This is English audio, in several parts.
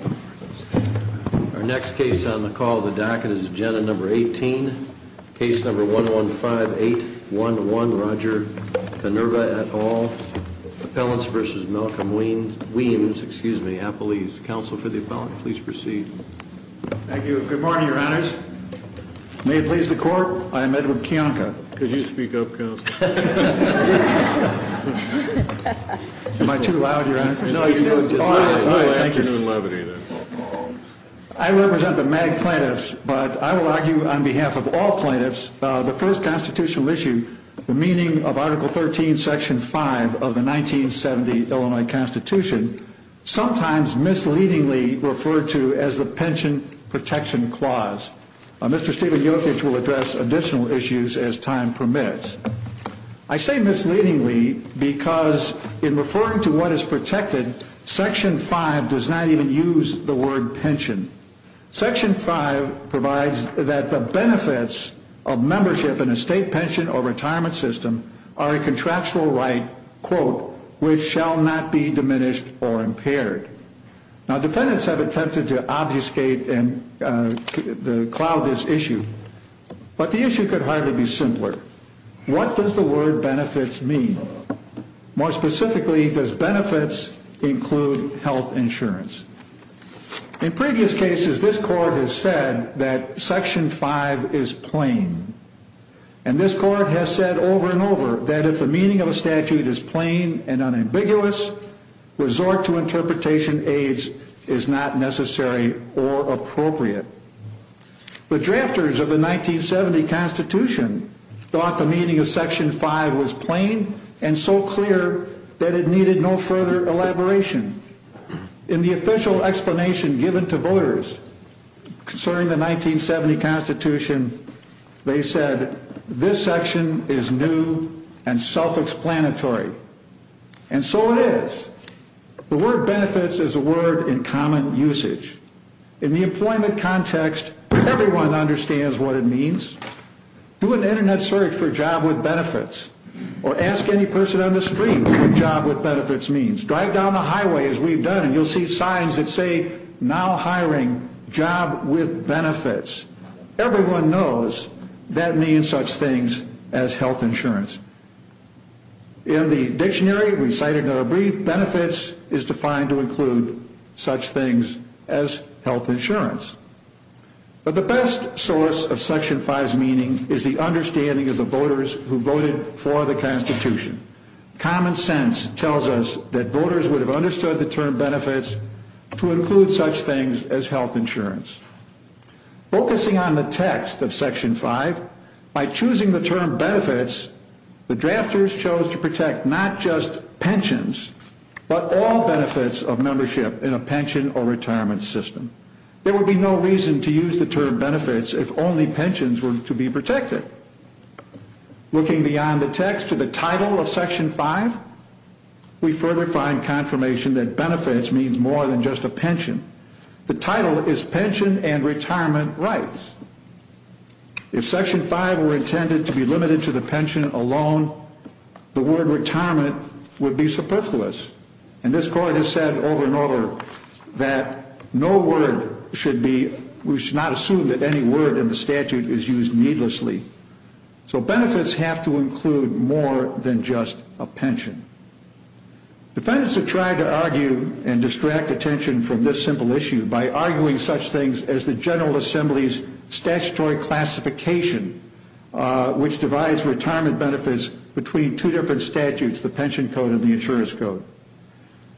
Our next case on the call of the docket is agenda number 18. Case number 115-811, Roger Canerva et al. Appellants v. Malcolm Weems. Counsel for the appellant, please proceed. Thank you. Good morning, your honors. May it please the court, I am Edward Kiyonka. Could you speak up, counsel? Am I too loud, your honor? No, thank you. I represent the MAG plaintiffs, but I will argue on behalf of all plaintiffs, the first constitutional issue, the meaning of Article 13, Section 5 of the 1970 Illinois Constitution, sometimes misleadingly referred to as the Pension Protection Clause. Mr. Steven Jokic will address additional issues as time permits. I say misleadingly because in referring to what is protected, Section 5 does not even use the word pension. Section 5 provides that the benefits of membership in a state pension or retirement system are a contractual right, quote, which shall not be diminished or impaired. Now, defendants have attempted to obfuscate and cloud this issue, but the issue could hardly be simpler. What does the word benefits mean? More specifically, does benefits include health insurance? In previous cases, this court has said that Section 5 is plain, and this court has said over and over that if the meaning of a statute is plain and unambiguous, resort to interpretation aides is not necessary or appropriate. The drafters of the 1970 Constitution thought the meaning of Section 5 was plain and so clear that it needed no further elaboration. In the official explanation given to voters concerning the 1970 Constitution, they said, this section is new and self-explanatory. And so it is. The word benefits is a word in common usage. In the employment context, everyone understands what it means. Do an Internet search for job with benefits or ask any person on the street what job with benefits means. Drive down the highway, as we've done, and you'll see signs that say, now hiring job with benefits. Everyone knows that means such things as health insurance. In the dictionary we cited in our brief, benefits is defined to include such things as health insurance. But the best source of Section 5's meaning is the understanding of the voters who voted for the Constitution. Common sense tells us that voters would have understood the term benefits to include such things as health insurance. Focusing on the text of Section 5, by choosing the term benefits, the drafters chose to protect not just pensions, but all benefits of membership in a pension or retirement system. There would be no reason to use the term benefits if only pensions were to be protected. Looking beyond the text to the title of Section 5, we further find confirmation that benefits means more than just a pension. The title is pension and retirement rights. If Section 5 were intended to be limited to the pension alone, the word retirement would be superfluous. And this Court has said over and over that no word should be, we should not assume that any word in the statute is used needlessly. So benefits have to include more than just a pension. Defendants have tried to argue and distract attention from this simple issue by arguing such things as the General Assembly's statutory classification which divides retirement benefits between two different statutes, the pension code and the insurer's code.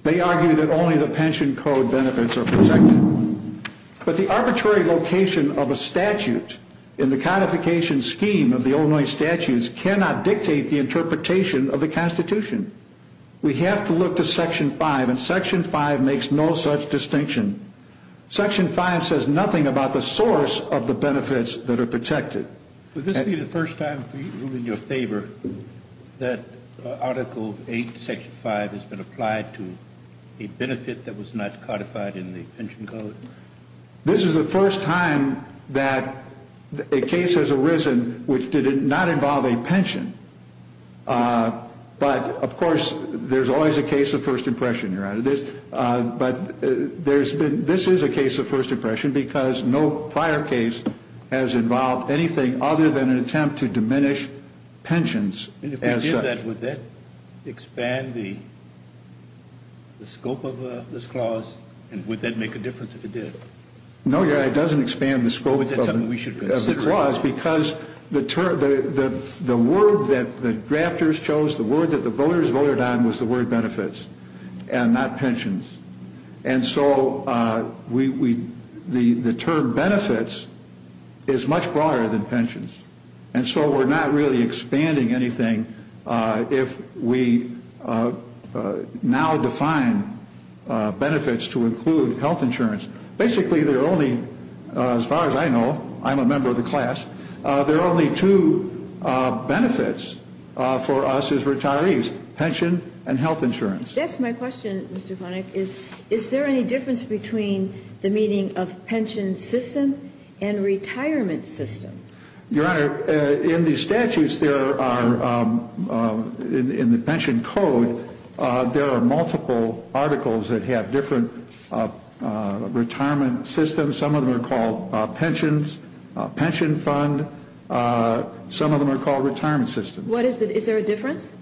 They argue that only the pension code benefits are protected. But the arbitrary location of a statute in the codification scheme of the Illinois statutes cannot dictate the interpretation of the Constitution. We have to look to Section 5, and Section 5 makes no such distinction. Section 5 says nothing about the source of the benefits that are protected. Would this be the first time, in your favor, that Article 8, Section 5 has been applied to a benefit that was not codified in the pension code? This is the first time that a case has arisen which did not involve a pension. But, of course, there's always a case of first impression, Your Honor. But this is a case of first impression because no prior case has involved anything other than an attempt to diminish pensions. And if we did that, would that expand the scope of this clause, and would that make a difference if it did? No, Your Honor, it doesn't expand the scope of the clause because the word that the drafters chose, the word that the voters voted on was the word benefits and not pensions. And so the term benefits is much broader than pensions. And so we're not really expanding anything if we now define benefits to include health insurance. Basically, there are only, as far as I know, I'm a member of the class, there are only two benefits for us as retirees, pension and health insurance. Yes, my question, Mr. Vonnegut, is, is there any difference between the meaning of pension system and retirement system? Your Honor, in the statutes there are, in the pension code, there are multiple articles that have different retirement systems. Some of them are called pensions, pension fund. Some of them are called retirement system. What is it? Is there a difference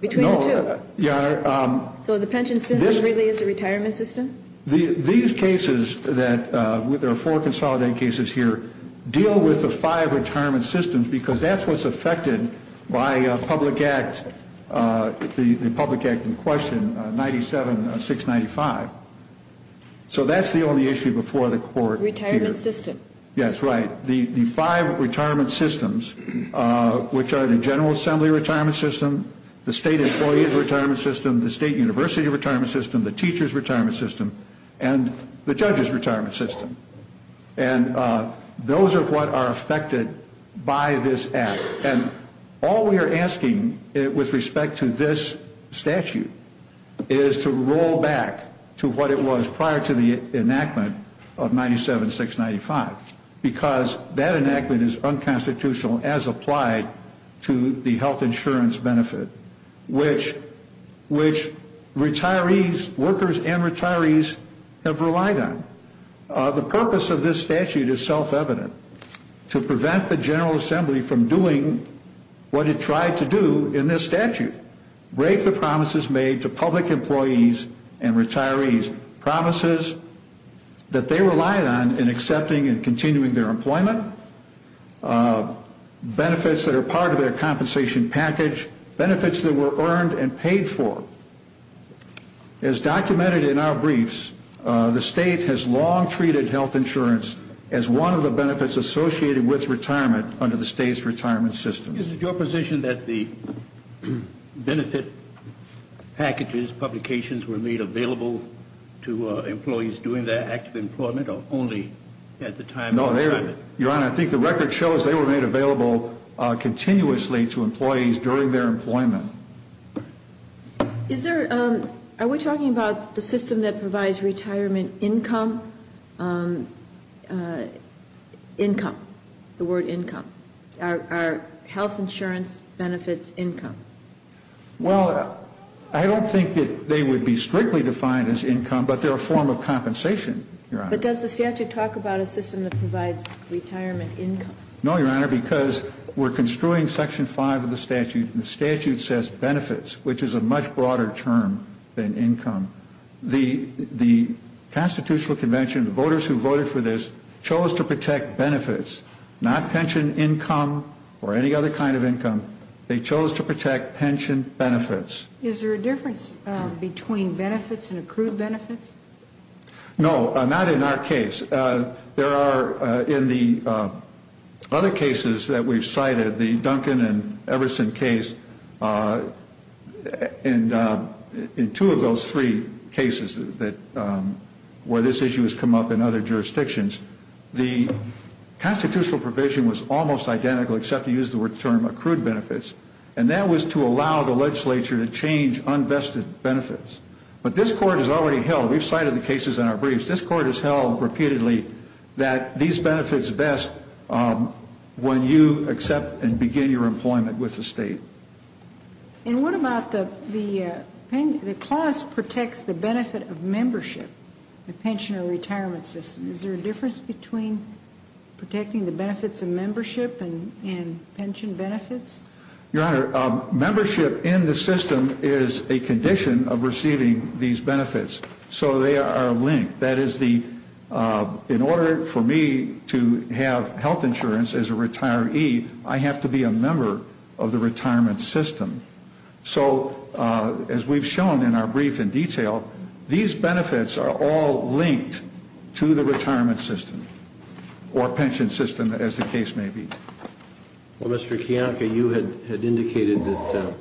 between the two? No, Your Honor. So the pension system really is a retirement system? These cases that, there are four consolidated cases here, deal with the five retirement systems because that's what's affected by public act, the public act in question, 97-695. So that's the only issue before the court. Retirement system. Yes, right. The five retirement systems, which are the general assembly retirement system, the state employee's retirement system, the state university retirement system, the teacher's retirement system, and the judge's retirement system. And those are what are affected by this act. And all we are asking with respect to this statute is to roll back to what it was prior to the enactment of 97-695 because that enactment is unconstitutional as applied to the health insurance benefit, which retirees, workers and retirees have relied on. The purpose of this statute is self-evident, to prevent the general assembly from doing what it tried to do in this statute, break the promises made to public employees and retirees, promises that they relied on in accepting and continuing their employment, benefits that are part of their compensation package, benefits that were earned and paid for. As documented in our briefs, the state has long treated health insurance as one of the benefits associated with retirement under the state's retirement system. Is it your position that the benefit packages, publications were made available to employees during their active employment or only at the time of retirement? No, Your Honor, I think the record shows they were made available continuously to employees during their employment. Are we talking about the system that provides retirement income? Income, the word income. Are health insurance benefits income? Well, I don't think that they would be strictly defined as income, but they're a form of compensation, Your Honor. But does the statute talk about a system that provides retirement income? No, Your Honor, because we're construing Section 5 of the statute, and the statute says benefits, which is a much broader term than income. The Constitutional Convention, the voters who voted for this, chose to protect benefits, not pension income or any other kind of income. They chose to protect pension benefits. Is there a difference between benefits and accrued benefits? No, not in our case. There are, in the other cases that we've cited, the Duncan and Everson case, and in two of those three cases where this issue has come up in other jurisdictions, the constitutional provision was almost identical except it used the term accrued benefits, and that was to allow the legislature to change unvested benefits. But this Court has already held, we've cited the cases in our briefs, and this Court has held repeatedly that these benefits best when you accept and begin your employment with the state. And what about the clause protects the benefit of membership, the pensioner retirement system? Is there a difference between protecting the benefits of membership and pension benefits? Your Honor, membership in the system is a condition of receiving these benefits, so they are linked. That is the, in order for me to have health insurance as a retiree, I have to be a member of the retirement system. So as we've shown in our brief in detail, these benefits are all linked to the retirement system or pension system, as the case may be. Well, Mr. Kiyanka, you had indicated that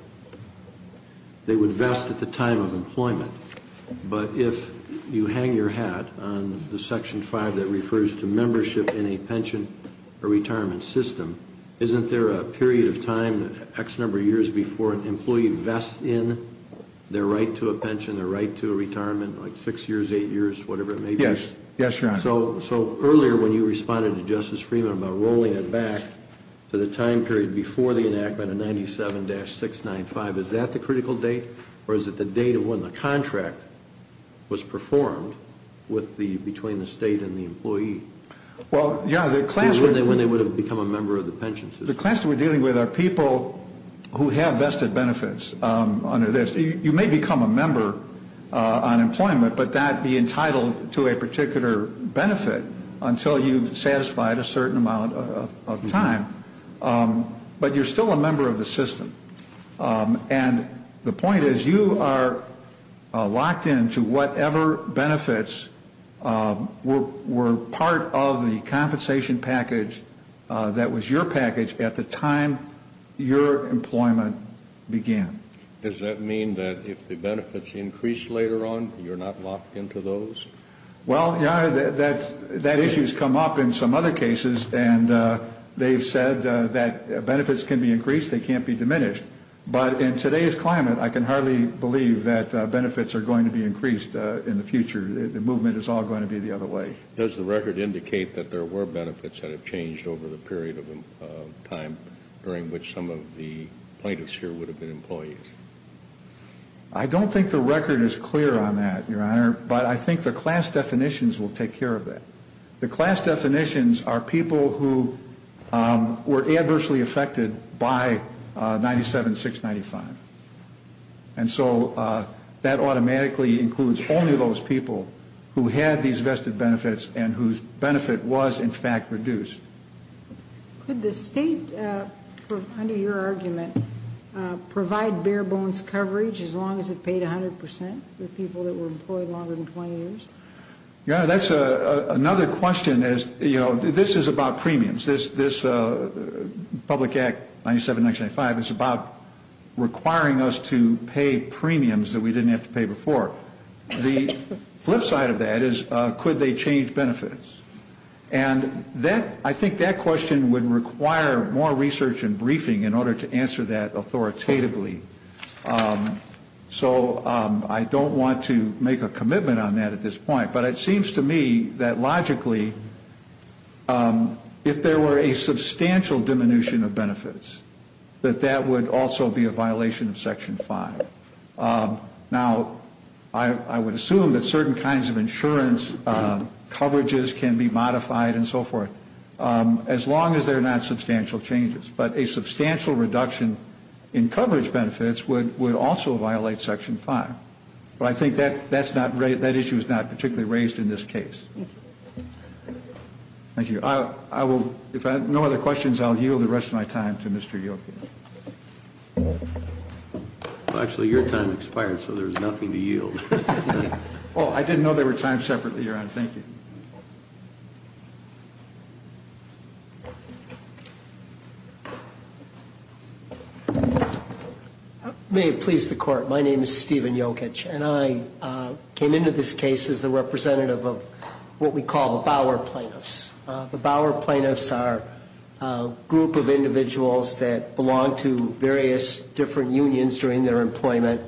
they would vest at the time of employment, but if you hang your hat on the Section 5 that refers to membership in a pension or retirement system, isn't there a period of time, X number of years, before an employee vests in their right to a pension, their right to a retirement, like six years, eight years, whatever it may be? Yes. Yes, Your Honor. So earlier when you responded to Justice Freeman about rolling it back to the time period before the enactment of 97-695, is that the critical date, or is it the date of when the contract was performed between the State and the employee? Well, Your Honor, the class that we're dealing with are people who have vested benefits under this. You may become a member on employment, but not be entitled to a particular benefit until you've satisfied a certain amount of time. But you're still a member of the system. And the point is you are locked into whatever benefits were part of the compensation package that was your package at the time your employment began. Does that mean that if the benefits increase later on, you're not locked into those? Well, Your Honor, that issue has come up in some other cases, and they've said that benefits can be increased, they can't be diminished. But in today's climate, I can hardly believe that benefits are going to be increased in the future. The movement is all going to be the other way. Does the record indicate that there were benefits that have changed over the period of time during which some of the plaintiffs here would have been employees? I don't think the record is clear on that, Your Honor, but I think the class definitions will take care of that. The class definitions are people who were adversely affected by 97-695. And so that automatically includes only those people who had these vested benefits and whose benefit was, in fact, reduced. Could the state, under your argument, provide bare-bones coverage as long as it paid 100 percent for people that were employed longer than 20 years? Your Honor, that's another question. This is about premiums. This Public Act 97-695 is about requiring us to pay premiums that we didn't have to pay before. The flip side of that is could they change benefits? And I think that question would require more research and briefing in order to answer that authoritatively. So I don't want to make a commitment on that at this point. But it seems to me that logically, if there were a substantial diminution of benefits, that that would also be a violation of Section 5. Now, I would assume that certain kinds of insurance coverages can be modified and so forth, as long as they're not substantial changes. But a substantial reduction in coverage benefits would also violate Section 5. But I think that issue is not particularly raised in this case. Thank you. If I have no other questions, I'll yield the rest of my time to Mr. Jokic. Actually, your time expired, so there's nothing to yield. Oh, I didn't know there were times separately, Your Honor. Thank you. May it please the Court. My name is Stephen Jokic. And I came into this case as the representative of what we call the Bauer plaintiffs. The Bauer plaintiffs are a group of individuals that belong to various different unions during their employment,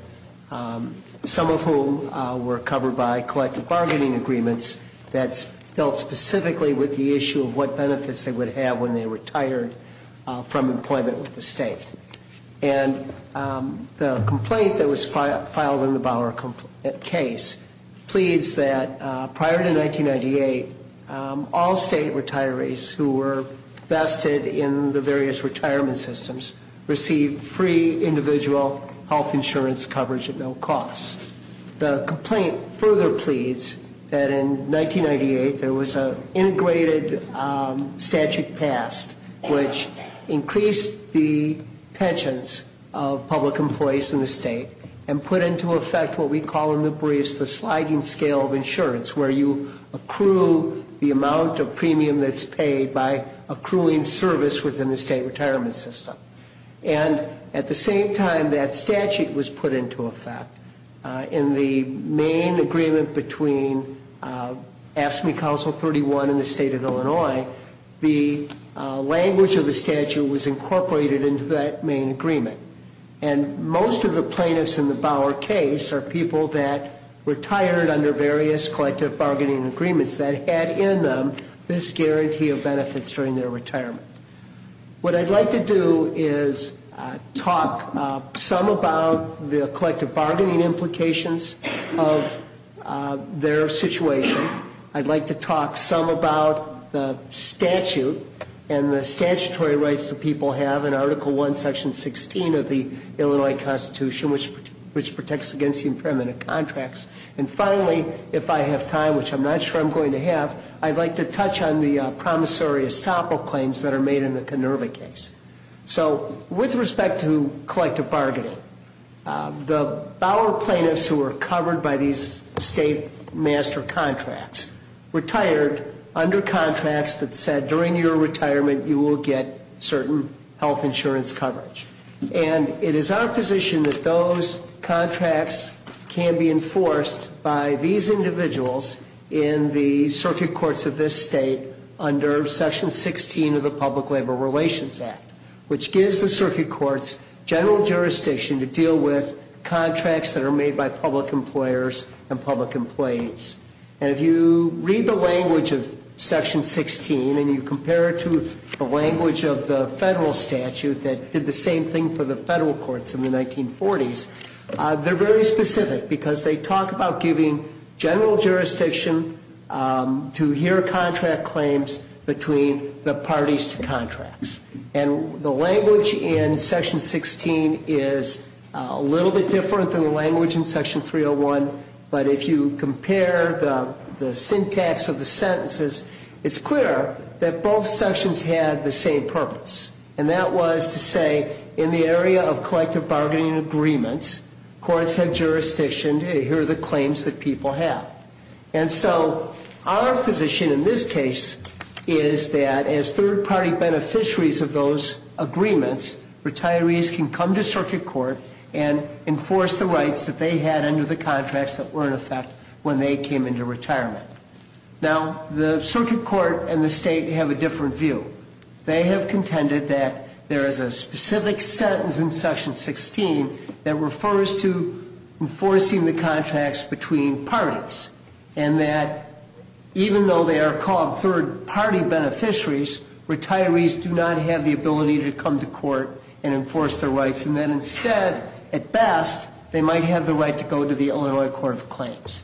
some of whom were covered by collective bargaining agreements that dealt specifically with the issue of what benefits they would have when they retired from employment with the state. And the complaint that was filed in the Bauer case pleads that prior to 1998, all state retirees who were vested in the various retirement systems received free individual health insurance coverage at no cost. The complaint further pleads that in 1998, there was an integrated statute passed, which increased the pensions of public employees in the state and put into effect what we call in the briefs the sliding scale of insurance, where you accrue the amount of premium that's paid by accruing service within the state retirement system. And at the same time, that statute was put into effect. In the main agreement between AFSCME Council 31 and the state of Illinois, the language of the statute was incorporated into that main agreement. And most of the plaintiffs in the Bauer case are people that retired under various collective bargaining agreements that had in them this guarantee of benefits during their retirement. What I'd like to do is talk some about the collective bargaining implications of their situation. I'd like to talk some about the statute and the statutory rights that people have in Article I, Section 16 of the Illinois Constitution, which protects against the impairment of contracts. And finally, if I have time, which I'm not sure I'm going to have, I'd like to touch on the promissory estoppel claims that are made in the Kenerva case. So with respect to collective bargaining, the Bauer plaintiffs who were covered by these state master contracts retired under contracts that said during your retirement you will get certain health insurance coverage. And it is our position that those contracts can be enforced by these individuals in the circuit courts of this state under Section 16 of the Public Labor Relations Act, which gives the circuit courts general jurisdiction to deal with contracts that are made by public employers and public employees. And if you read the language of Section 16 and you compare it to the language of the federal statute that did the same thing for the federal courts in the 1940s, they're very specific because they talk about giving general jurisdiction to hear contract claims between the parties to contracts. And the language in Section 16 is a little bit different than the language in Section 301, but if you compare the syntax of the sentences, it's clear that both sections had the same purpose, and that was to say in the area of collective bargaining agreements, courts have jurisdiction to hear the claims that people have. And so our position in this case is that as third-party beneficiaries of those agreements, retirees can come to circuit court and enforce the rights that they had under the contracts that were in effect when they came into retirement. Now, the circuit court and the state have a different view. They have contended that there is a specific sentence in Section 16 that refers to enforcing the contracts between parties, and that even though they are called third-party beneficiaries, retirees do not have the ability to come to court and enforce their rights, and that instead, at best, they might have the right to go to the Illinois Court of Claims.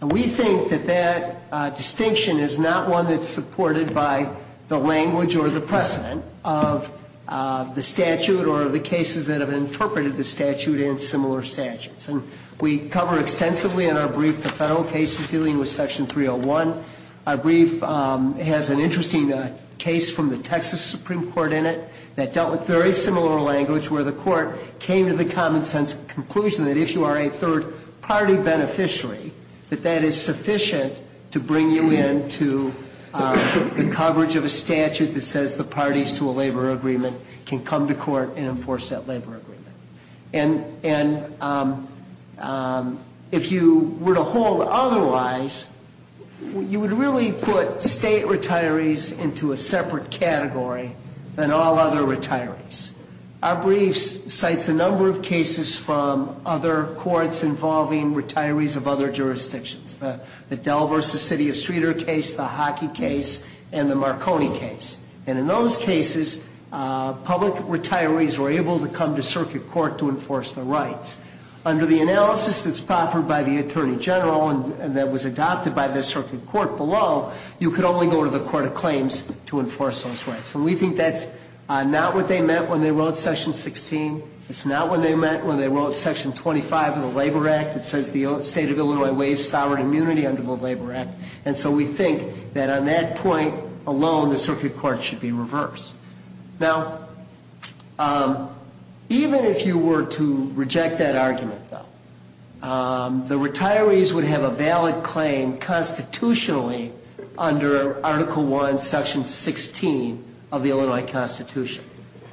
And we think that that distinction is not one that's supported by the language or the precedent of the statute or the cases that have interpreted the statute in similar statutes. And we cover extensively in our brief the federal cases dealing with Section 301. Our brief has an interesting case from the Texas Supreme Court in it that dealt with very similar language where the court came to the common-sense conclusion that if you are a third-party beneficiary, that that is sufficient to bring you into the coverage of a statute that says the parties to a labor agreement can come to court and enforce that labor agreement. And if you were to hold otherwise, you would really put state retirees into a separate category than all other retirees. Our brief cites a number of cases from other courts involving retirees of other jurisdictions, the Dell v. City of Streeter case, the Hockey case, and the Marconi case. And in those cases, public retirees were able to come to circuit court to enforce their rights. Under the analysis that's proffered by the Attorney General and that was adopted by the circuit court below, you could only go to the Court of Claims to enforce those rights. And we think that's not what they meant when they wrote Section 16. It's not what they meant when they wrote Section 25 of the Labor Act that says the state of Illinois waives sovereign immunity under the Labor Act. And so we think that on that point alone, the circuit court should be reversed. Now, even if you were to reject that argument, though, the retirees would have a valid claim constitutionally under Article I, Section 16 of the Illinois Constitution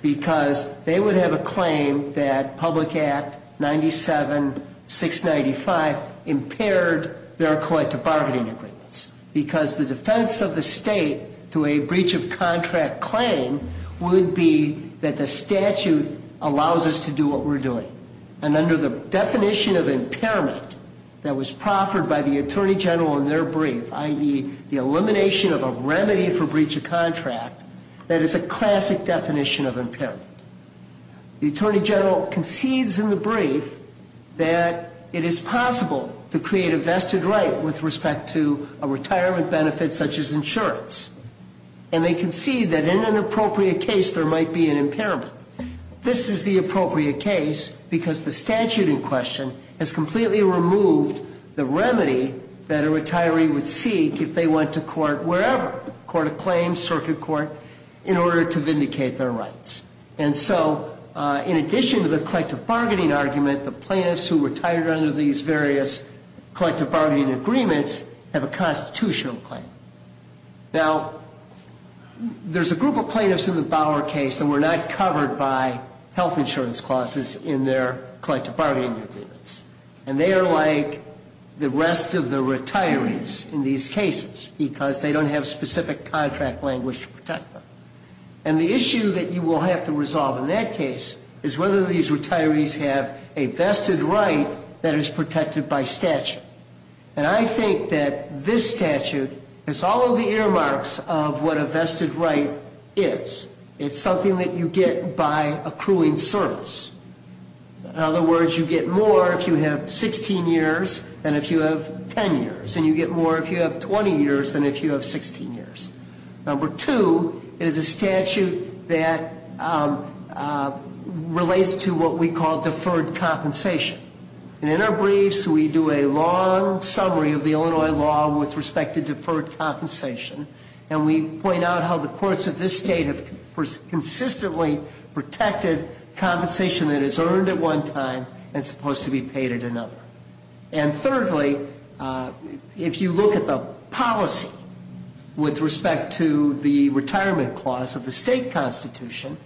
because they would have a claim that Public Act 97-695 impaired their collective bargaining agreements because the defense of the state to a breach of contract claim would be that the statute allows us to do what we're doing. And under the definition of impairment that was proffered by the Attorney General in their brief, i.e., the elimination of a remedy for breach of contract, that is a classic definition of impairment. The Attorney General concedes in the brief that it is possible to create a vested right with respect to a retirement benefit such as insurance. And they concede that in an appropriate case, there might be an impairment. This is the appropriate case because the statute in question has completely removed the remedy that a retiree would seek if they went to court wherever, court of claims, circuit court, in order to vindicate their rights. And so in addition to the collective bargaining argument, the plaintiffs who retired under these various collective bargaining agreements have a constitutional claim. Now, there's a group of plaintiffs in the Bauer case that were not covered by health insurance clauses in their collective bargaining agreements. And they are like the rest of the retirees in these cases because they don't have specific contract language to protect them. And the issue that you will have to resolve in that case is whether these retirees have a vested right that is protected by statute. And I think that this statute is all of the earmarks of what a vested right is. It's something that you get by accruing service. In other words, you get more if you have 16 years than if you have 10 years. And you get more if you have 20 years than if you have 16 years. Number two, it is a statute that relates to what we call deferred compensation. And in our briefs, we do a long summary of the Illinois law with respect to deferred compensation. And we point out how the courts of this state have consistently protected compensation that is earned at one time and supposed to be paid at another. And thirdly, if you look at the policy with respect to the retirement clause of the state constitution,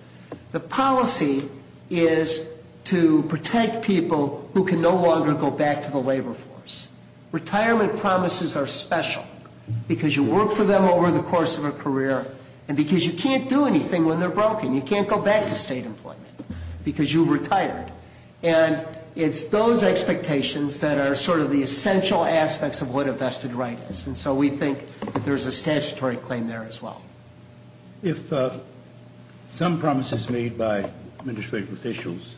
the policy is to protect people who can no longer go back to the labor force. Retirement promises are special because you work for them over the course of a career and because you can't do anything when they're broken. You can't go back to state employment because you've retired. And it's those expectations that are sort of the essential aspects of what a vested right is. And so we think that there's a statutory claim there as well. If some promises made by administrative officials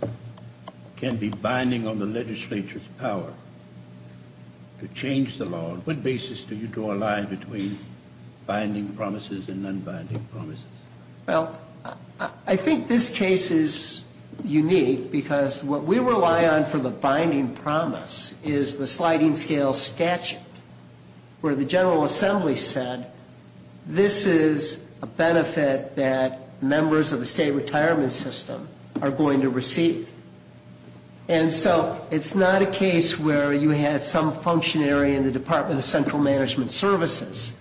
can be binding on the legislature's power to change the law, on what basis do you draw a line between binding promises and non-binding promises? Well, I think this case is unique because what we rely on for the binding promise is the sliding scale statute, where the General Assembly said this is a benefit that members of the state retirement system are going to receive. And so it's not a case where you had some functionary in the Department of Central Management Services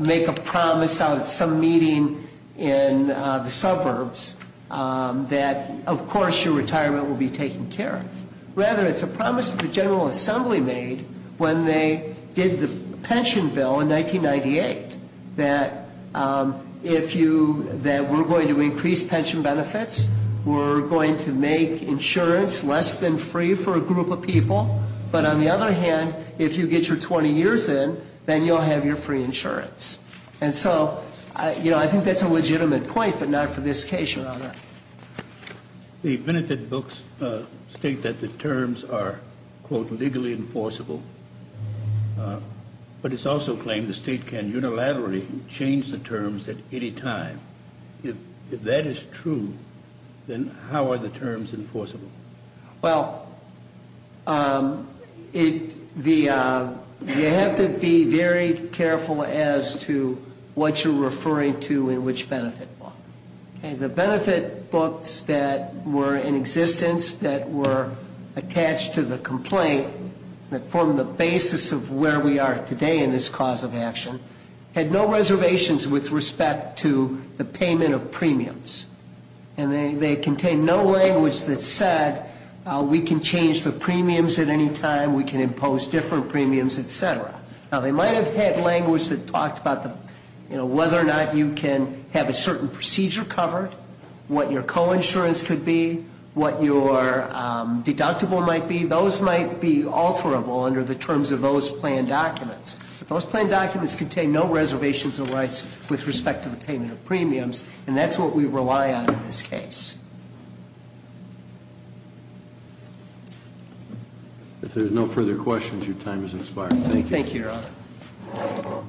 make a promise out at some meeting in the suburbs that, of course, your retirement will be taken care of. Rather, it's a promise that the General Assembly made when they did the pension bill in 1998, that we're going to increase pension benefits, we're going to make insurance less than free for a group of people. But on the other hand, if you get your 20 years in, then you'll have your free insurance. And so I think that's a legitimate point, but not for this case, Your Honor. The benefit books state that the terms are, quote, legally enforceable, but it's also claimed the state can unilaterally change the terms at any time. If that is true, then how are the terms enforceable? Well, you have to be very careful as to what you're referring to and which benefit book. The benefit books that were in existence, that were attached to the complaint, that formed the basis of where we are today in this cause of action, had no reservations with respect to the payment of premiums. And they contained no language that said we can change the premiums at any time, we can impose different premiums, et cetera. Now, they might have had language that talked about whether or not you can have a certain procedure covered, what your coinsurance could be, what your deductible might be. Those might be alterable under the terms of those plan documents. But those plan documents contain no reservations or rights with respect to the payment of premiums, and that's what we rely on in this case. If there's no further questions, your time has expired. Thank you, Your Honor.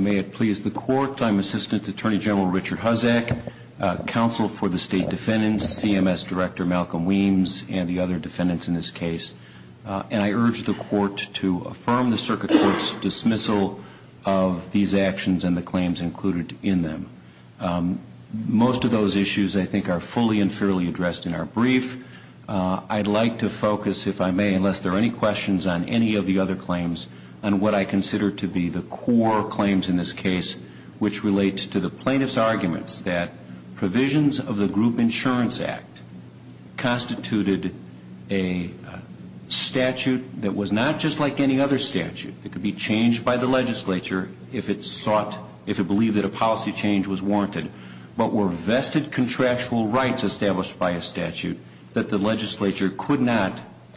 May it please the Court, I'm Assistant Attorney General Richard Huzzack, Counsel for the State Defendants, CMS Director Malcolm Weems, and the other defendants in this case. And I urge the Court to affirm the Circuit Court's dismissal of these actions and the claims included in them. Most of those issues, I think, are fully and fairly addressed in our brief. I'd like to focus, if I may, unless there are any questions on any of the other claims, on what I consider to be the core claims in this case, which relate to the plaintiff's arguments that provisions of the Group Insurance Act constituted a statute that was not just like any other statute. It could be changed by the legislature if it sought, if it believed that a policy change was warranted. But were vested contractual rights established by a statute that the legislature could not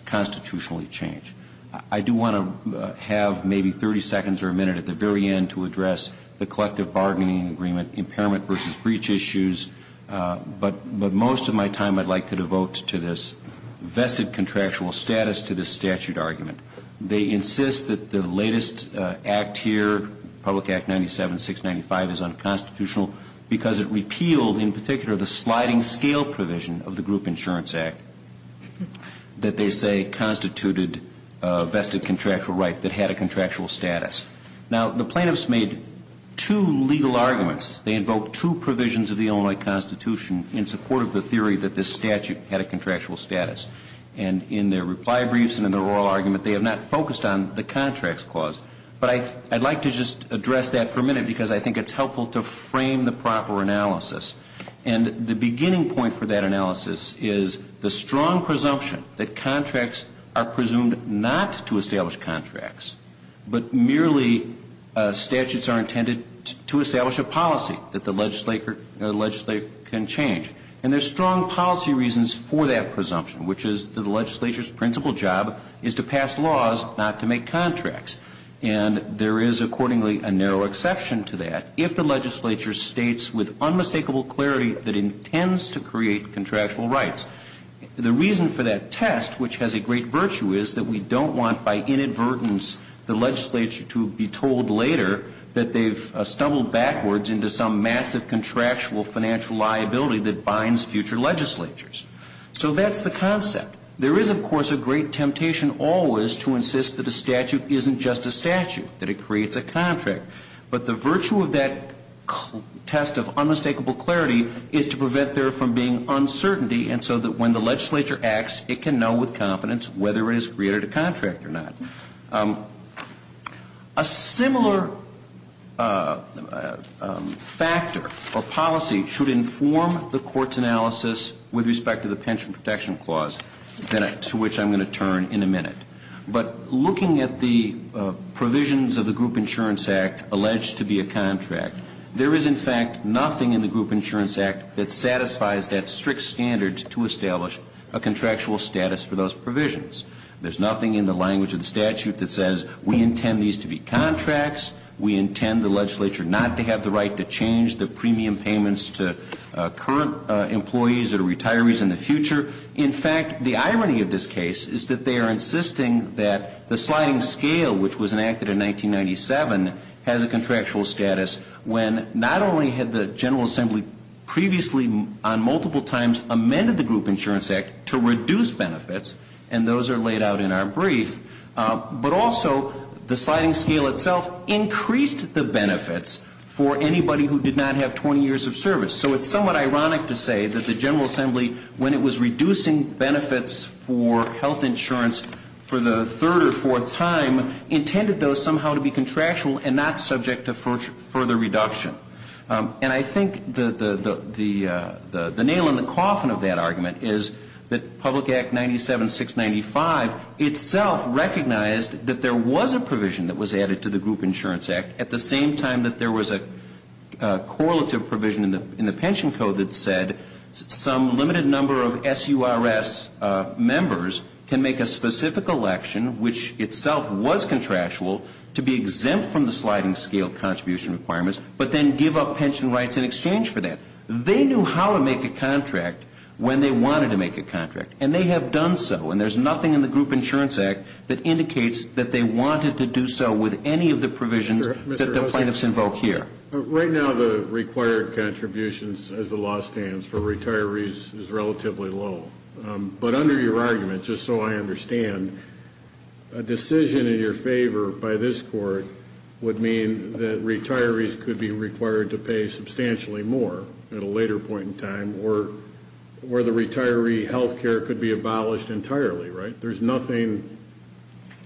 constitutionally change. I do want to have maybe 30 seconds or a minute at the very end to address the collective bargaining agreement, impairment versus breach issues. But most of my time I'd like to devote to this vested contractual status to this statute argument. They insist that the latest act here, Public Act 97-695, is unconstitutional because it repealed, in particular, the sliding scale provision of the Group Insurance Act that they say constituted a vested contractual right that had a contractual status. Now, the plaintiffs made two legal arguments. They invoked two provisions of the Illinois Constitution in support of the theory that this statute had a contractual status. And in their reply briefs and in their oral argument, they have not focused on the contracts clause. But I'd like to just address that for a minute because I think it's helpful to frame the proper analysis. And the beginning point for that analysis is the strong presumption that contracts are presumed not to establish contracts, but merely statutes are intended to establish a policy that the legislator can change. And there's strong policy reasons for that presumption, which is that the legislature's principal job is to pass laws, not to make contracts. And there is, accordingly, a narrow exception to that if the legislature states with unmistakable clarity that it intends to create contractual rights. The reason for that test, which has a great virtue, is that we don't want, by inadvertence, the legislature to be told later that they've stumbled backwards into some massive contractual financial liability that binds future legislatures. So that's the concept. There is, of course, a great temptation always to insist that a statute isn't just a statute, that it creates a contract. But the virtue of that test of unmistakable clarity is to prevent there from being uncertainty, and so that when the legislature acts, it can know with confidence whether it has created a contract or not. A similar factor or policy should inform the Court's analysis with respect to the Pension Protection Clause, to which I'm going to turn in a minute. But looking at the provisions of the Group Insurance Act alleged to be a contract, there is, in fact, nothing in the Group Insurance Act that satisfies that strict standard to establish a contractual status for those provisions. There's nothing in the language of the statute that says we intend these to be contracts, we intend the legislature not to have the right to change the premium payments to current employees or retirees in the future. In fact, the irony of this case is that they are insisting that the sliding scale, which was enacted in 1997, has a contractual status when not only had the General Assembly previously, on multiple times, amended the Group Insurance Act to reduce benefits, and those are laid out in our brief, but also the sliding scale itself increased the benefits for anybody who did not have 20 years of service. So it's somewhat ironic to say that the General Assembly, when it was reducing benefits for health insurance for the third or fourth time, intended those somehow to be contractual and not subject to further reduction. And I think the nail in the coffin of that argument is that Public Act 97-695 itself recognized that there was a provision that was added to the Group Insurance Act at the same time that there was a correlative provision in the pension code that said some limited number of SURS members can make a specific election, which itself was contractual, to be exempt from the sliding scale contribution requirements, but then give up pension rights in exchange for that. They knew how to make a contract when they wanted to make a contract, and they have done so, and there's nothing in the Group Insurance Act that indicates that they wanted to do so with any of the provisions that the plaintiffs invoke here. Right now, the required contributions, as the law stands, for retirees is relatively low. But under your argument, just so I understand, a decision in your favor by this court would mean that retirees could be required to pay substantially more at a later point in time, or the retiree health care could be abolished entirely, right? There's nothing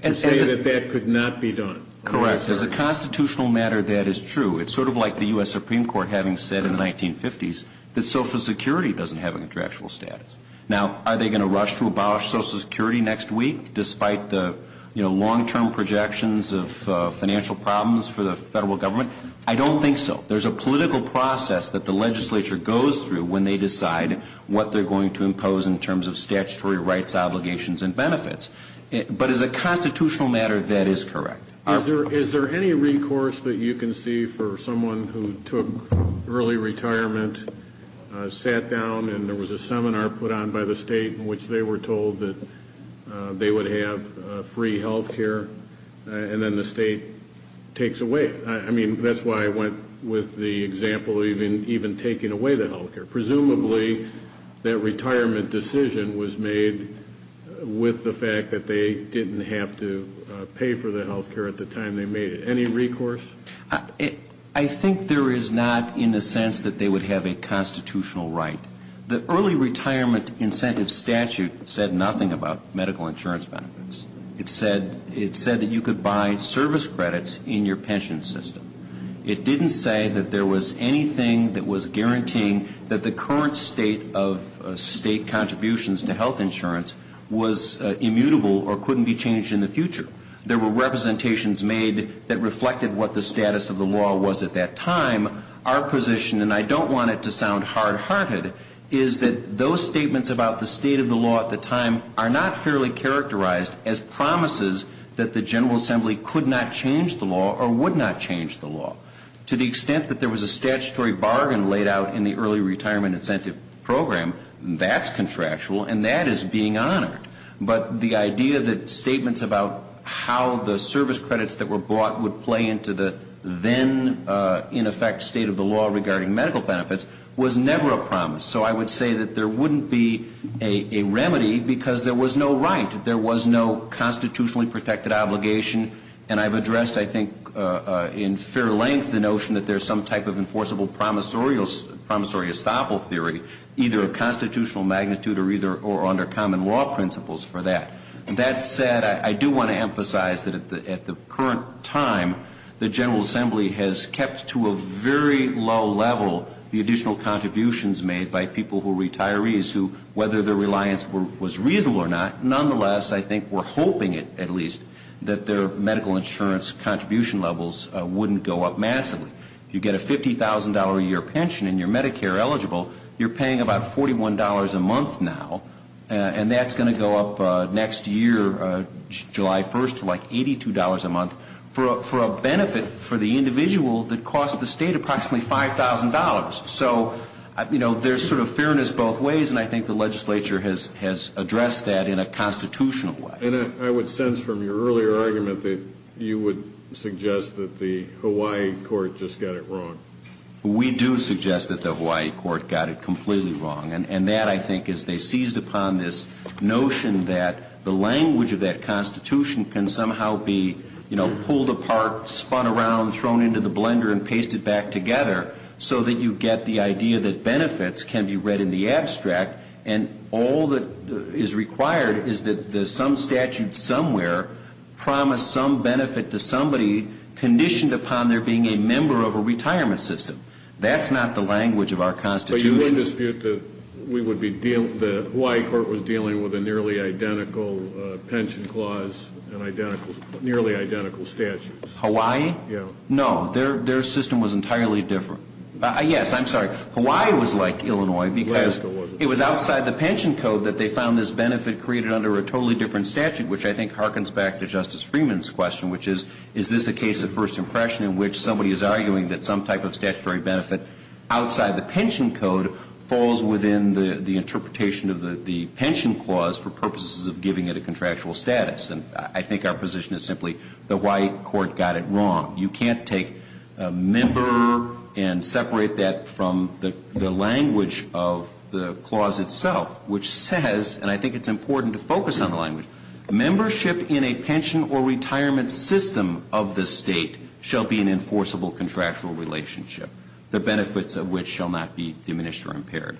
to say that that could not be done. Correct. As a constitutional matter, that is true. It's sort of like the U.S. Supreme Court having said in the 1950s that Social Security doesn't have a contractual status. Now, are they going to rush to abolish Social Security next week despite the, you know, long-term projections of financial problems for the federal government? I don't think so. There's a political process that the legislature goes through when they decide what they're going to impose in terms of statutory rights, obligations, and benefits. But as a constitutional matter, that is correct. Is there any recourse that you can see for someone who took early retirement, sat down and there was a seminar put on by the state in which they were told that they would have free health care, and then the state takes away? I mean, that's why I went with the example of even taking away the health care. Presumably, that retirement decision was made with the fact that they didn't have to pay for the health care at the time they made it. Any recourse? I think there is not in the sense that they would have a constitutional right. The early retirement incentive statute said nothing about medical insurance benefits. It said that you could buy service credits in your pension system. It didn't say that there was anything that was guaranteeing that the current state of state contributions to health insurance was immutable or couldn't be changed in the future. There were representations made that reflected what the status of the law was at that time. Our position, and I don't want it to sound hard-hearted, is that those statements about the state of the law at the time are not fairly characterized as promises that the General Assembly could not change the law or would not change the law. To the extent that there was a statutory bargain laid out in the early retirement incentive program, that's contractual and that is being honored. But the idea that statements about how the service credits that were bought would play into the then, in effect, state of the law regarding medical benefits was never a promise. So I would say that there wouldn't be a remedy because there was no right. And I've addressed, I think, in fair length, the notion that there's some type of enforceable promissory estoppel theory, either of constitutional magnitude or under common law principles for that. That said, I do want to emphasize that at the current time, the General Assembly has kept to a very low level the additional contributions made by people who are retirees who, whether their reliance was reasonable or not, nonetheless, I think we're hoping it, at least, that their medical insurance contribution levels wouldn't go up massively. If you get a $50,000 a year pension and you're Medicare eligible, you're paying about $41 a month now, and that's going to go up next year, July 1st, to like $82 a month for a benefit for the individual that costs the state approximately $5,000. So, you know, there's sort of fairness both ways, and I think the legislature has addressed that in a constitutional way. And I would sense from your earlier argument that you would suggest that the Hawaii court just got it wrong. We do suggest that the Hawaii court got it completely wrong. And that, I think, is they seized upon this notion that the language of that Constitution can somehow be, you know, pulled apart, spun around, thrown into the blender and pasted back together so that you get the idea that benefits can be read in the abstract, and all that is required is that some statute somewhere promised some benefit to somebody conditioned upon their being a member of a retirement system. That's not the language of our Constitution. But you would dispute that we would be dealing, the Hawaii court was dealing with a nearly identical pension clause and nearly identical statutes. Hawaii? Yeah. No, their system was entirely different. Yes, I'm sorry. Hawaii was like Illinois because it was outside the pension code that they found this benefit created under a totally different statute, which I think harkens back to Justice Freeman's question, which is, is this a case of first impression in which somebody is arguing that some type of statutory benefit outside the pension code falls within the interpretation of the pension clause for purposes of giving it a contractual status? And I think our position is simply the Hawaii court got it wrong. You can't take member and separate that from the language of the clause itself, which says, and I think it's important to focus on the language, membership in a pension or retirement system of the state shall be an enforceable contractual relationship, the benefits of which shall not be diminished or impaired.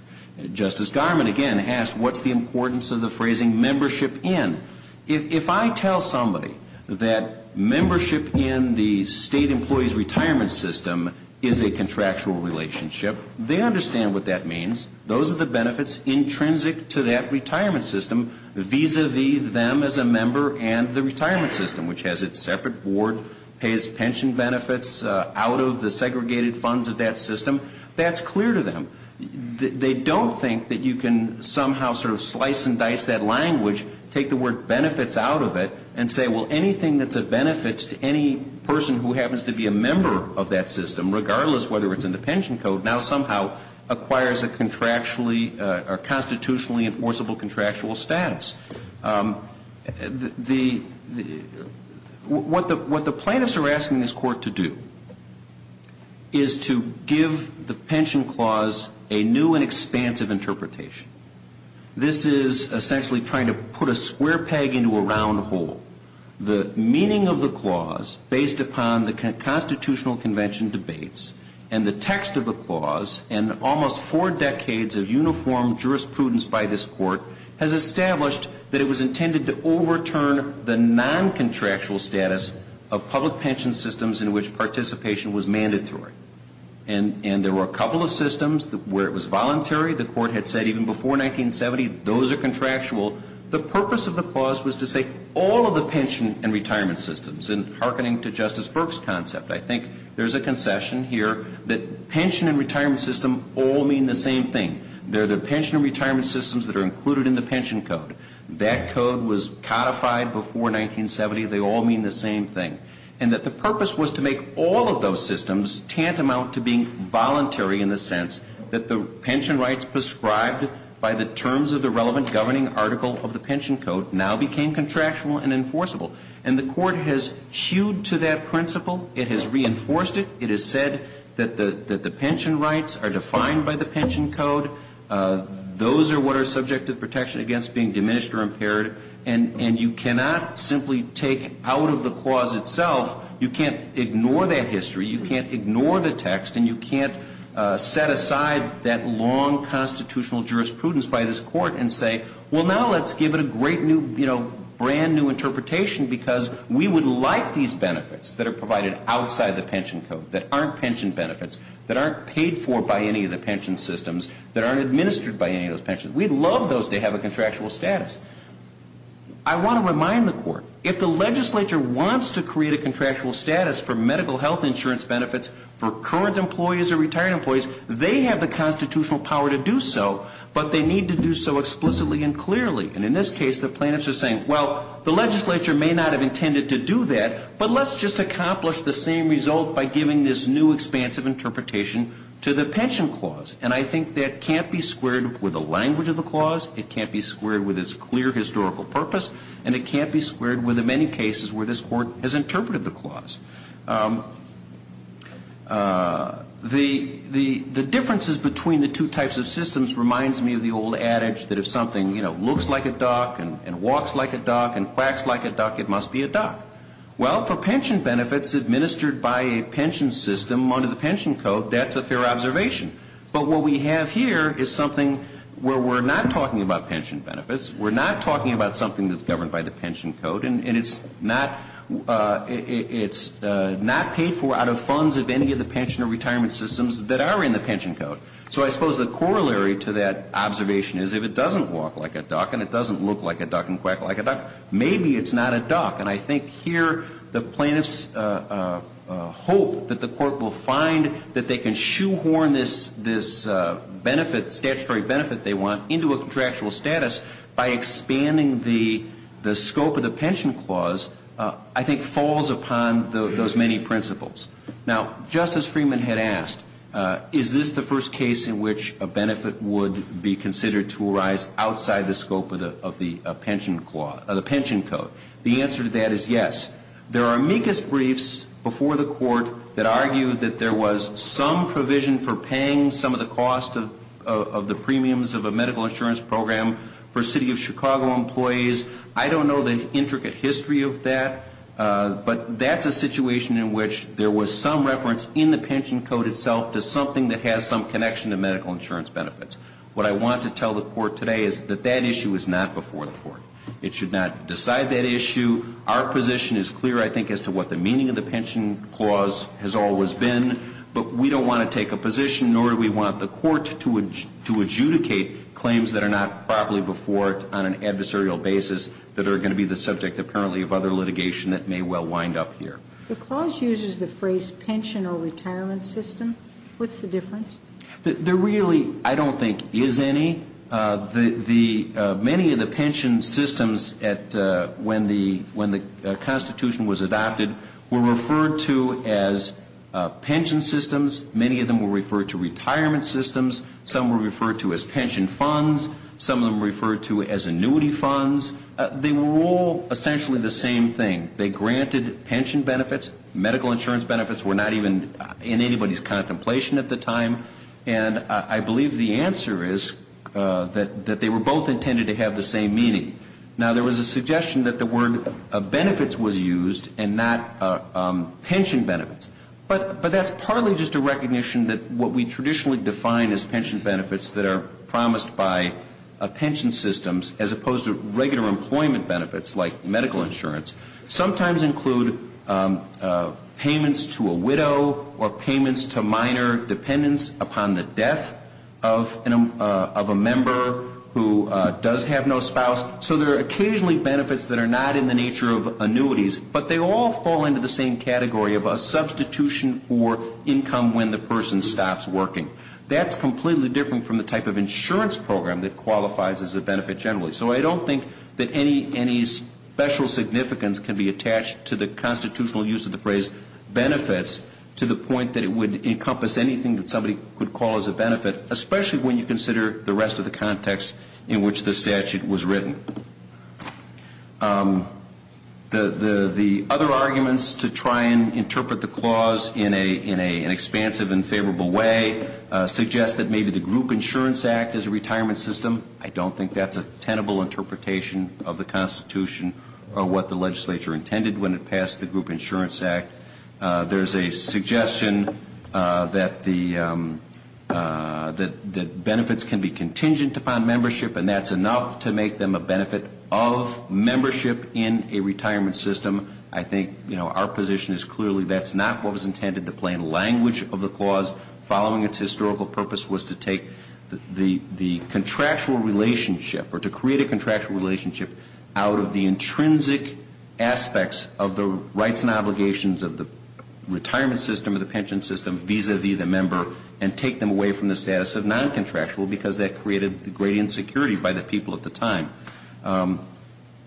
Justice Garmon, again, asked what's the importance of the phrasing membership in. If I tell somebody that membership in the state employee's retirement system is a contractual relationship, they understand what that means. Those are the benefits intrinsic to that retirement system vis-a-vis them as a member and the retirement system, which has its separate board, pays pension benefits out of the segregated funds of that system. That's clear to them. They don't think that you can somehow sort of slice and dice that language, take the word benefits out of it, and say, well, anything that's a benefit to any person who happens to be a member of that system, regardless of whether it's in the pension code, now somehow acquires a contractually or constitutionally enforceable contractual status. What the plaintiffs are asking this Court to do is to give the pension clause a new and expansive interpretation. This is essentially trying to put a square peg into a round hole. The meaning of the clause, based upon the constitutional convention debates and the text of the clause and almost four decades of uniform jurisprudence by this Court, has established that it was intended to overturn the noncontractual status of public pension systems in which participation was mandatory. And there were a couple of systems where it was voluntary. The Court had said even before 1970, those are contractual. The purpose of the clause was to say all of the pension and retirement systems. And hearkening to Justice Burke's concept, I think there's a concession here that pension and retirement system all mean the same thing. They're the pension and retirement systems that are included in the pension code. That code was codified before 1970. They all mean the same thing. And that the purpose was to make all of those systems tantamount to being voluntary in the sense that the pension rights prescribed by the terms of the relevant governing article of the pension code now became contractual and enforceable. And the Court has hewed to that principle. It has reinforced it. It has said that the pension rights are defined by the pension code. Those are what are subject to protection against being diminished or impaired. And you cannot simply take out of the clause itself. You can't ignore that history. You can't ignore the text. And you can't set aside that long constitutional jurisprudence by this Court and say, well, now let's give it a great new, you know, brand-new interpretation because we would like these benefits that are provided outside the pension code, that aren't pension benefits, that aren't paid for by any of the pension systems, that aren't administered by any of those pensions. We'd love those to have a contractual status. I want to remind the Court, if the legislature wants to create a contractual status for medical health insurance benefits for current employees or retired employees, they have the constitutional power to do so, but they need to do so explicitly and clearly. And in this case, the plaintiffs are saying, well, the legislature may not have intended to do that, but let's just accomplish the same result by giving this new expansive interpretation to the pension clause. And I think that can't be squared with the language of the clause. It can't be squared with its clear historical purpose. And it can't be squared with the many cases where this Court has interpreted the clause. The differences between the two types of systems reminds me of the old adage that if something, you know, looks like a duck and walks like a duck and quacks like a duck, it must be a duck. Well, for pension benefits administered by a pension system under the pension code, that's a fair observation. But what we have here is something where we're not talking about pension benefits, we're not talking about something that's governed by the pension code, and it's not paid for out of funds of any of the pension or retirement systems that are in the pension code. So I suppose the corollary to that observation is if it doesn't walk like a duck and it doesn't look like a duck and quack like a duck, maybe it's not a duck. And I think here the plaintiffs hope that the Court will find that they can shoehorn this benefit, the statutory benefit they want, into a contractual status by expanding the scope of the pension clause, I think falls upon those many principles. Now, Justice Freeman had asked, is this the first case in which a benefit would be considered to arise outside the scope of the pension code? The answer to that is yes. There are amicus briefs before the Court that argue that there was some provision for paying some of the cost of the premiums of a medical insurance program for City of Chicago employees. I don't know the intricate history of that, but that's a situation in which there was some reference in the pension code itself to something that has some connection to medical insurance benefits. What I want to tell the Court today is that that issue is not before the Court. It should not decide that issue. Our position is clear, I think, as to what the meaning of the pension clause has always been. But we don't want to take a position, nor do we want the Court to adjudicate claims that are not properly before it on an adversarial basis that are going to be the subject, apparently, of other litigation that may well wind up here. The clause uses the phrase pension or retirement system. What's the difference? There really, I don't think, is any. Many of the pension systems when the Constitution was adopted were referred to as pension systems. Many of them were referred to retirement systems. Some were referred to as pension funds. Some of them were referred to as annuity funds. They were all essentially the same thing. They granted pension benefits. Medical insurance benefits were not even in anybody's contemplation at the time. And I believe the answer is that they were both intended to have the same meaning. Now, there was a suggestion that the word benefits was used and not pension benefits. But that's partly just a recognition that what we traditionally define as pension benefits that are promised by pension systems as opposed to regular employment benefits like medical insurance sometimes include payments to a widow or payments to minor dependents upon the death of a member who does have no spouse. So there are occasionally benefits that are not in the nature of annuities, but they all fall into the same category of a substitution for income when the person stops working. That's completely different from the type of insurance program that qualifies as a benefit generally. So I don't think that any special significance can be attached to the constitutional use of the phrase benefits to the point that it would encompass anything that somebody could call as a benefit, especially when you consider the rest of the context in which the statute was written. The other arguments to try and interpret the clause in an expansive and favorable way suggest that maybe the Group Insurance Act is a retirement system. I don't think that's a tenable interpretation of the Constitution or what the legislature intended when it passed the Group Insurance Act. There's a suggestion that benefits can be contingent upon membership and that's enough to make them a benefit of membership in a retirement system. I think our position is clearly that's not what was intended. The plain language of the clause, following its historical purpose, was to take the contractual relationship or to create a contractual relationship out of the intrinsic aspects of the rights and obligations of the retirement system or the pension system vis-a-vis the member and take them away from the status of non-contractual because that created the great insecurity by the people at the time.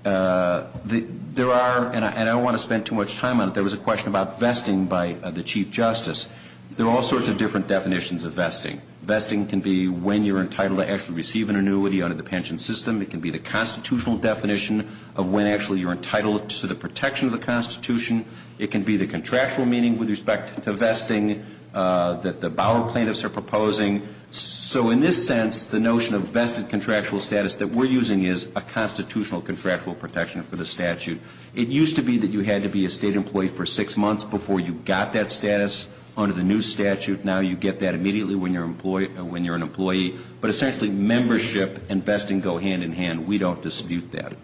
There are, and I don't want to spend too much time on it, there was a question about vesting by the Chief Justice. There are all sorts of different definitions of vesting. Vesting can be when you're entitled to actually receive an annuity under the pension system. It can be the constitutional definition of when actually you're entitled to the protection of the Constitution. It can be the contractual meaning with respect to vesting that the Bauer plaintiffs are proposing. So in this sense, the notion of vested contractual status that we're using is a constitutional contractual protection for the statute. It used to be that you had to be a state employee for six months before you got that status under the new statute. Now you get that immediately when you're an employee. But essentially membership and vesting go hand in hand. We don't dispute that.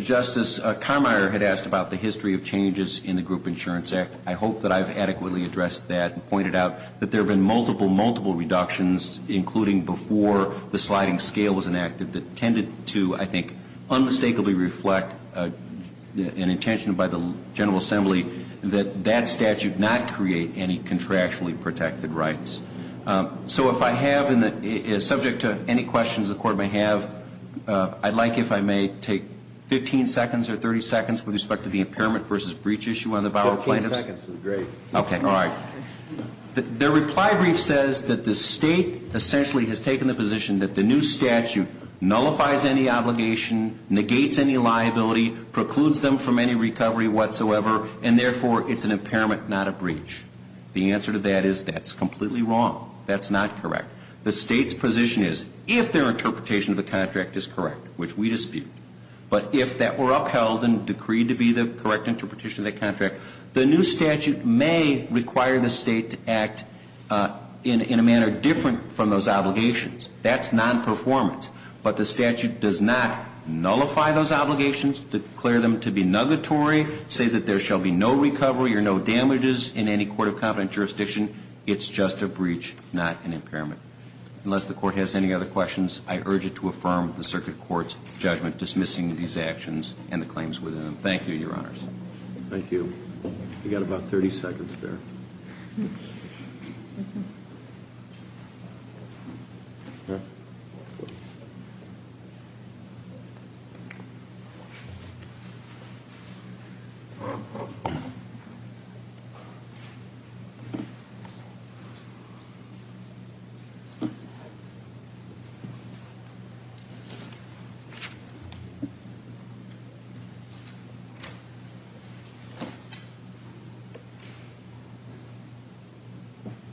Justice Carmeier had asked about the history of changes in the Group Insurance Act. I hope that I've adequately addressed that and pointed out that there have been multiple, multiple reductions, including before the sliding scale was enacted, that tended to, I think, unmistakably reflect an intention by the General Assembly that that statute not create any contractually protected rights. So if I have, subject to any questions the Court may have, I'd like if I may take 15 seconds or 30 seconds with respect to the impairment versus breach issue on the Bauer plaintiffs. Fifteen seconds would be great. Okay, all right. The reply brief says that the state essentially has taken the position that the new statute nullifies any obligation, negates any liability, precludes them from any recovery whatsoever, and therefore it's an impairment, not a breach. The answer to that is that's completely wrong. That's not correct. The state's position is if their interpretation of the contract is correct, which we dispute, but if that were upheld and decreed to be the correct interpretation of the contract, the new statute may require the state to act in a manner different from those obligations. That's non-performance. But the statute does not nullify those obligations, declare them to be nugatory, say that there shall be no recovery or no damages in any court of competent jurisdiction. It's just a breach, not an impairment. Unless the Court has any other questions, I urge you to affirm the Circuit Court's judgment dismissing these actions and the claims within them. Thank you, Your Honors. Thank you. We've got about 30 seconds there.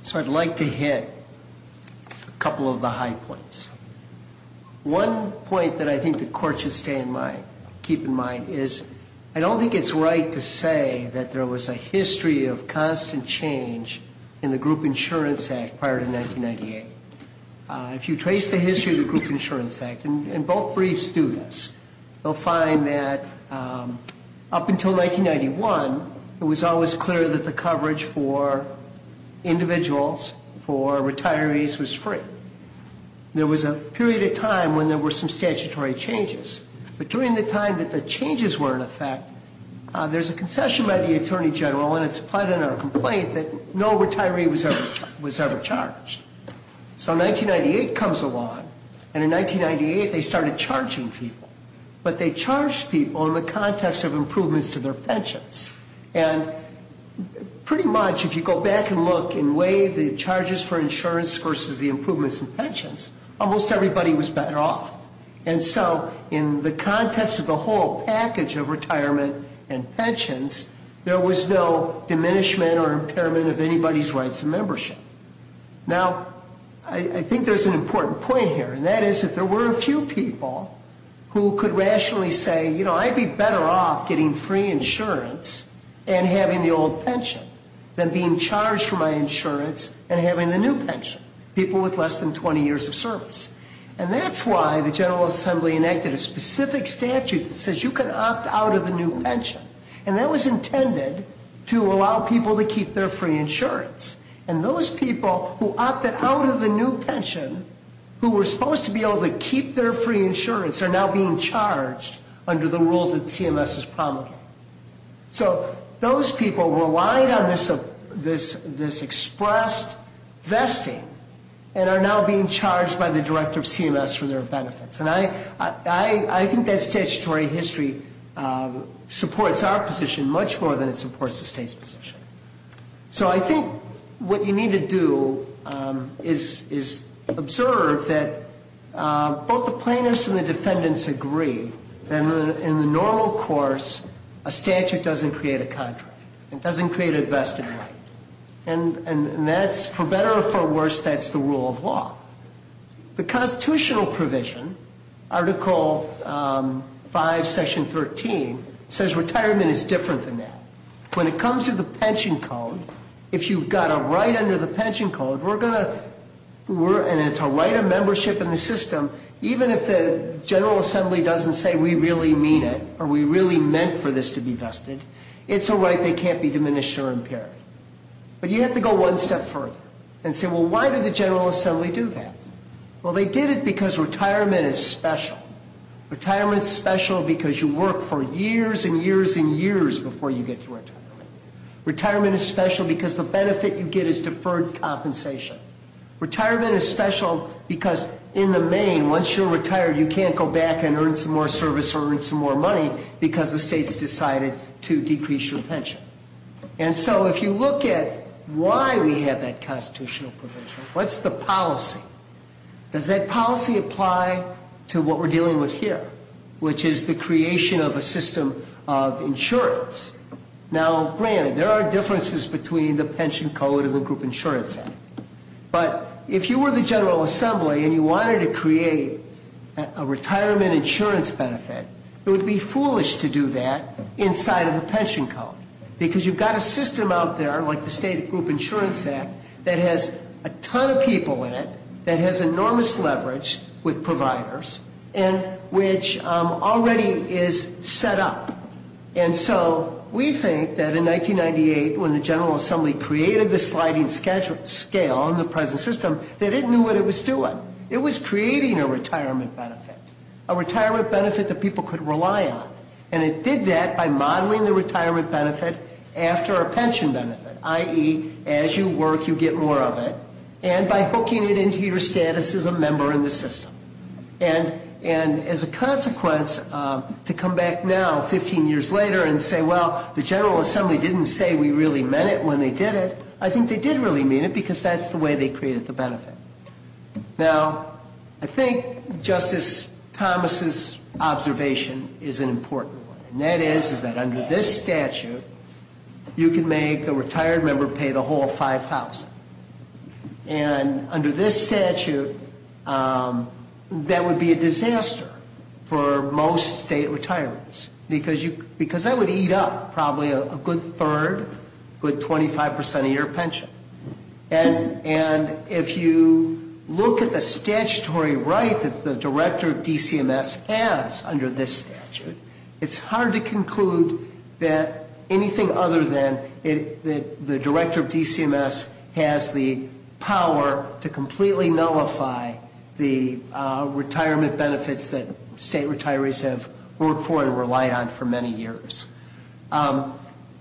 So I'd like to hit a couple of the high points. One point that I think the Court should stay in mind, keep in mind, is I don't think it's right to say that there was a history of constant change in the Group Insurance Act prior to 1998. If you trace the history of the Group Insurance Act, and both briefs do this, you'll find that up until 1991, it was always clear that the coverage for individuals, for retirees, was free. There was a period of time when there were some statutory changes. But during the time that the changes were in effect, there's a concession by the Attorney General, and it's applied in our complaint, that no retiree was ever charged. So 1998 comes along, and in 1998 they started charging people. But they charged people in the context of improvements to their pensions. And pretty much, if you go back and look and weigh the charges for insurance versus the improvements in pensions, almost everybody was better off. And so in the context of the whole package of retirement and pensions, there was no diminishment or impairment of anybody's rights of membership. Now, I think there's an important point here, and that is that there were a few people who could rationally say, you know, I'd be better off getting free insurance and having the old pension than being charged for my insurance and having the new pension. People with less than 20 years of service. And that's why the General Assembly enacted a specific statute that says you can opt out of the new pension. And that was intended to allow people to keep their free insurance. And those people who opted out of the new pension, who were supposed to be able to keep their free insurance, are now being charged under the rules that CMS is promulgating. So those people relied on this expressed vesting and are now being charged by the Director of CMS for their benefits. And I think that statutory history supports our position much more than it supports the state's position. So I think what you need to do is observe that both the plaintiffs and the defendants agree that in the normal course, a statute doesn't create a contract. It doesn't create a vested right. And that's, for better or for worse, that's the rule of law. The constitutional provision, Article 5, Section 13, says retirement is different than that. When it comes to the pension code, if you've got a right under the pension code, and it's a right of membership in the system, even if the General Assembly doesn't say we really mean it or we really meant for this to be vested, it's a right that can't be diminished or impaired. But you have to go one step further and say, well, why did the General Assembly do that? Well, they did it because retirement is special. Retirement is special because you work for years and years and years before you get to retirement. Retirement is special because the benefit you get is deferred compensation. Retirement is special because in the main, once you're retired, you can't go back and earn some more service or earn some more money because the state's decided to decrease your pension. And so if you look at why we have that constitutional provision, what's the policy? Does that policy apply to what we're dealing with here, which is the creation of a system of insurance? Now, granted, there are differences between the pension code and the Group Insurance Act. But if you were the General Assembly and you wanted to create a retirement insurance benefit, it would be foolish to do that inside of the pension code, because you've got a system out there like the State Group Insurance Act that has a ton of people in it, that has enormous leverage with providers, and which already is set up. And so we think that in 1998, when the General Assembly created the sliding scale in the present system, they didn't know what it was doing. It was creating a retirement benefit, a retirement benefit that people could rely on. And it did that by modeling the retirement benefit after a pension benefit, i.e., as you work, you get more of it, and by hooking it into your status as a member in the system. And as a consequence, to come back now 15 years later and say, well, the General Assembly didn't say we really meant it when they did it, I think they did really mean it, because that's the way they created the benefit. Now, I think Justice Thomas' observation is an important one, and that is that under this statute, you can make a retired member pay the whole $5,000. And under this statute, that would be a disaster for most state retirees, because that would eat up probably a good third, a good 25% of your pension. And if you look at the statutory right that the director of DCMS has under this statute, it's hard to conclude that anything other than the director of DCMS has the power to completely nullify the retirement benefits that state retirees have worked for and relied on for many years.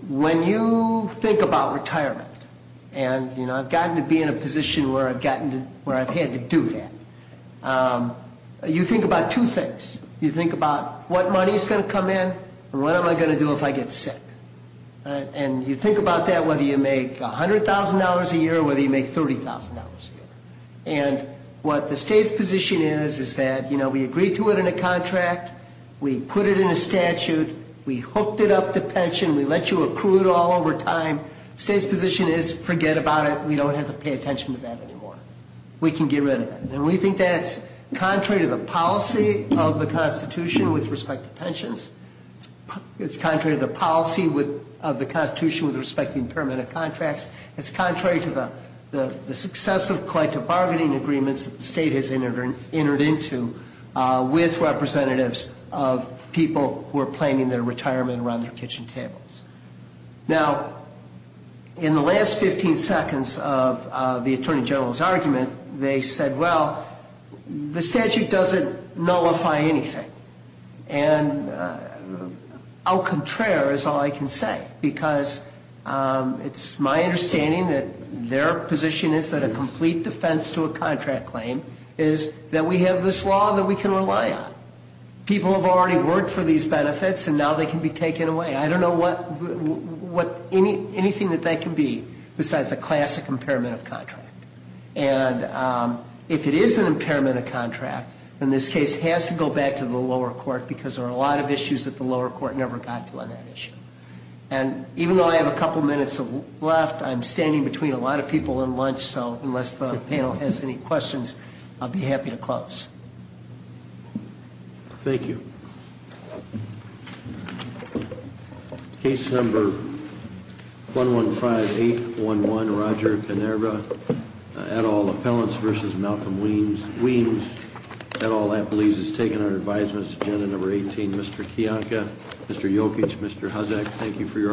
When you think about retirement, and I've gotten to be in a position where I've had to do that, you think about two things. You think about what money is going to come in and what am I going to do if I get sick. And you think about that, whether you make $100,000 a year or whether you make $30,000 a year. And what the state's position is is that, you know, we agreed to it in a contract. We put it in a statute. We hooked it up to pension. We let you accrue it all over time. The state's position is forget about it. We don't have to pay attention to that anymore. We can get rid of it. And we think that's contrary to the policy of the Constitution with respect to pensions. It's contrary to the policy of the Constitution with respect to impermanent contracts. It's contrary to the successive collective bargaining agreements that the state has entered into with representatives of people who are planning their retirement around their kitchen tables. Now, in the last 15 seconds of the Attorney General's argument, they said, well, the statute doesn't nullify anything. And au contraire is all I can say because it's my understanding that their position is that a complete defense to a contract claim is that we have this law that we can rely on. People have already worked for these benefits, and now they can be taken away. I don't know what anything that that can be besides a classic impairment of contract. And if it is an impairment of contract, then this case has to go back to the lower court because there are a lot of issues that the lower court never got to on that issue. And even though I have a couple minutes left, I'm standing between a lot of people and lunch, so unless the panel has any questions, I'll be happy to close. Thank you. Case number 115811, Roger Canerba, et al. Appellants v. Malcolm Weems, et al. Appellees has taken our advisements. Agenda number 18, Mr. Kiyanka, Mr. Jokic, Mr. Huzzack, thank you for your arguments today.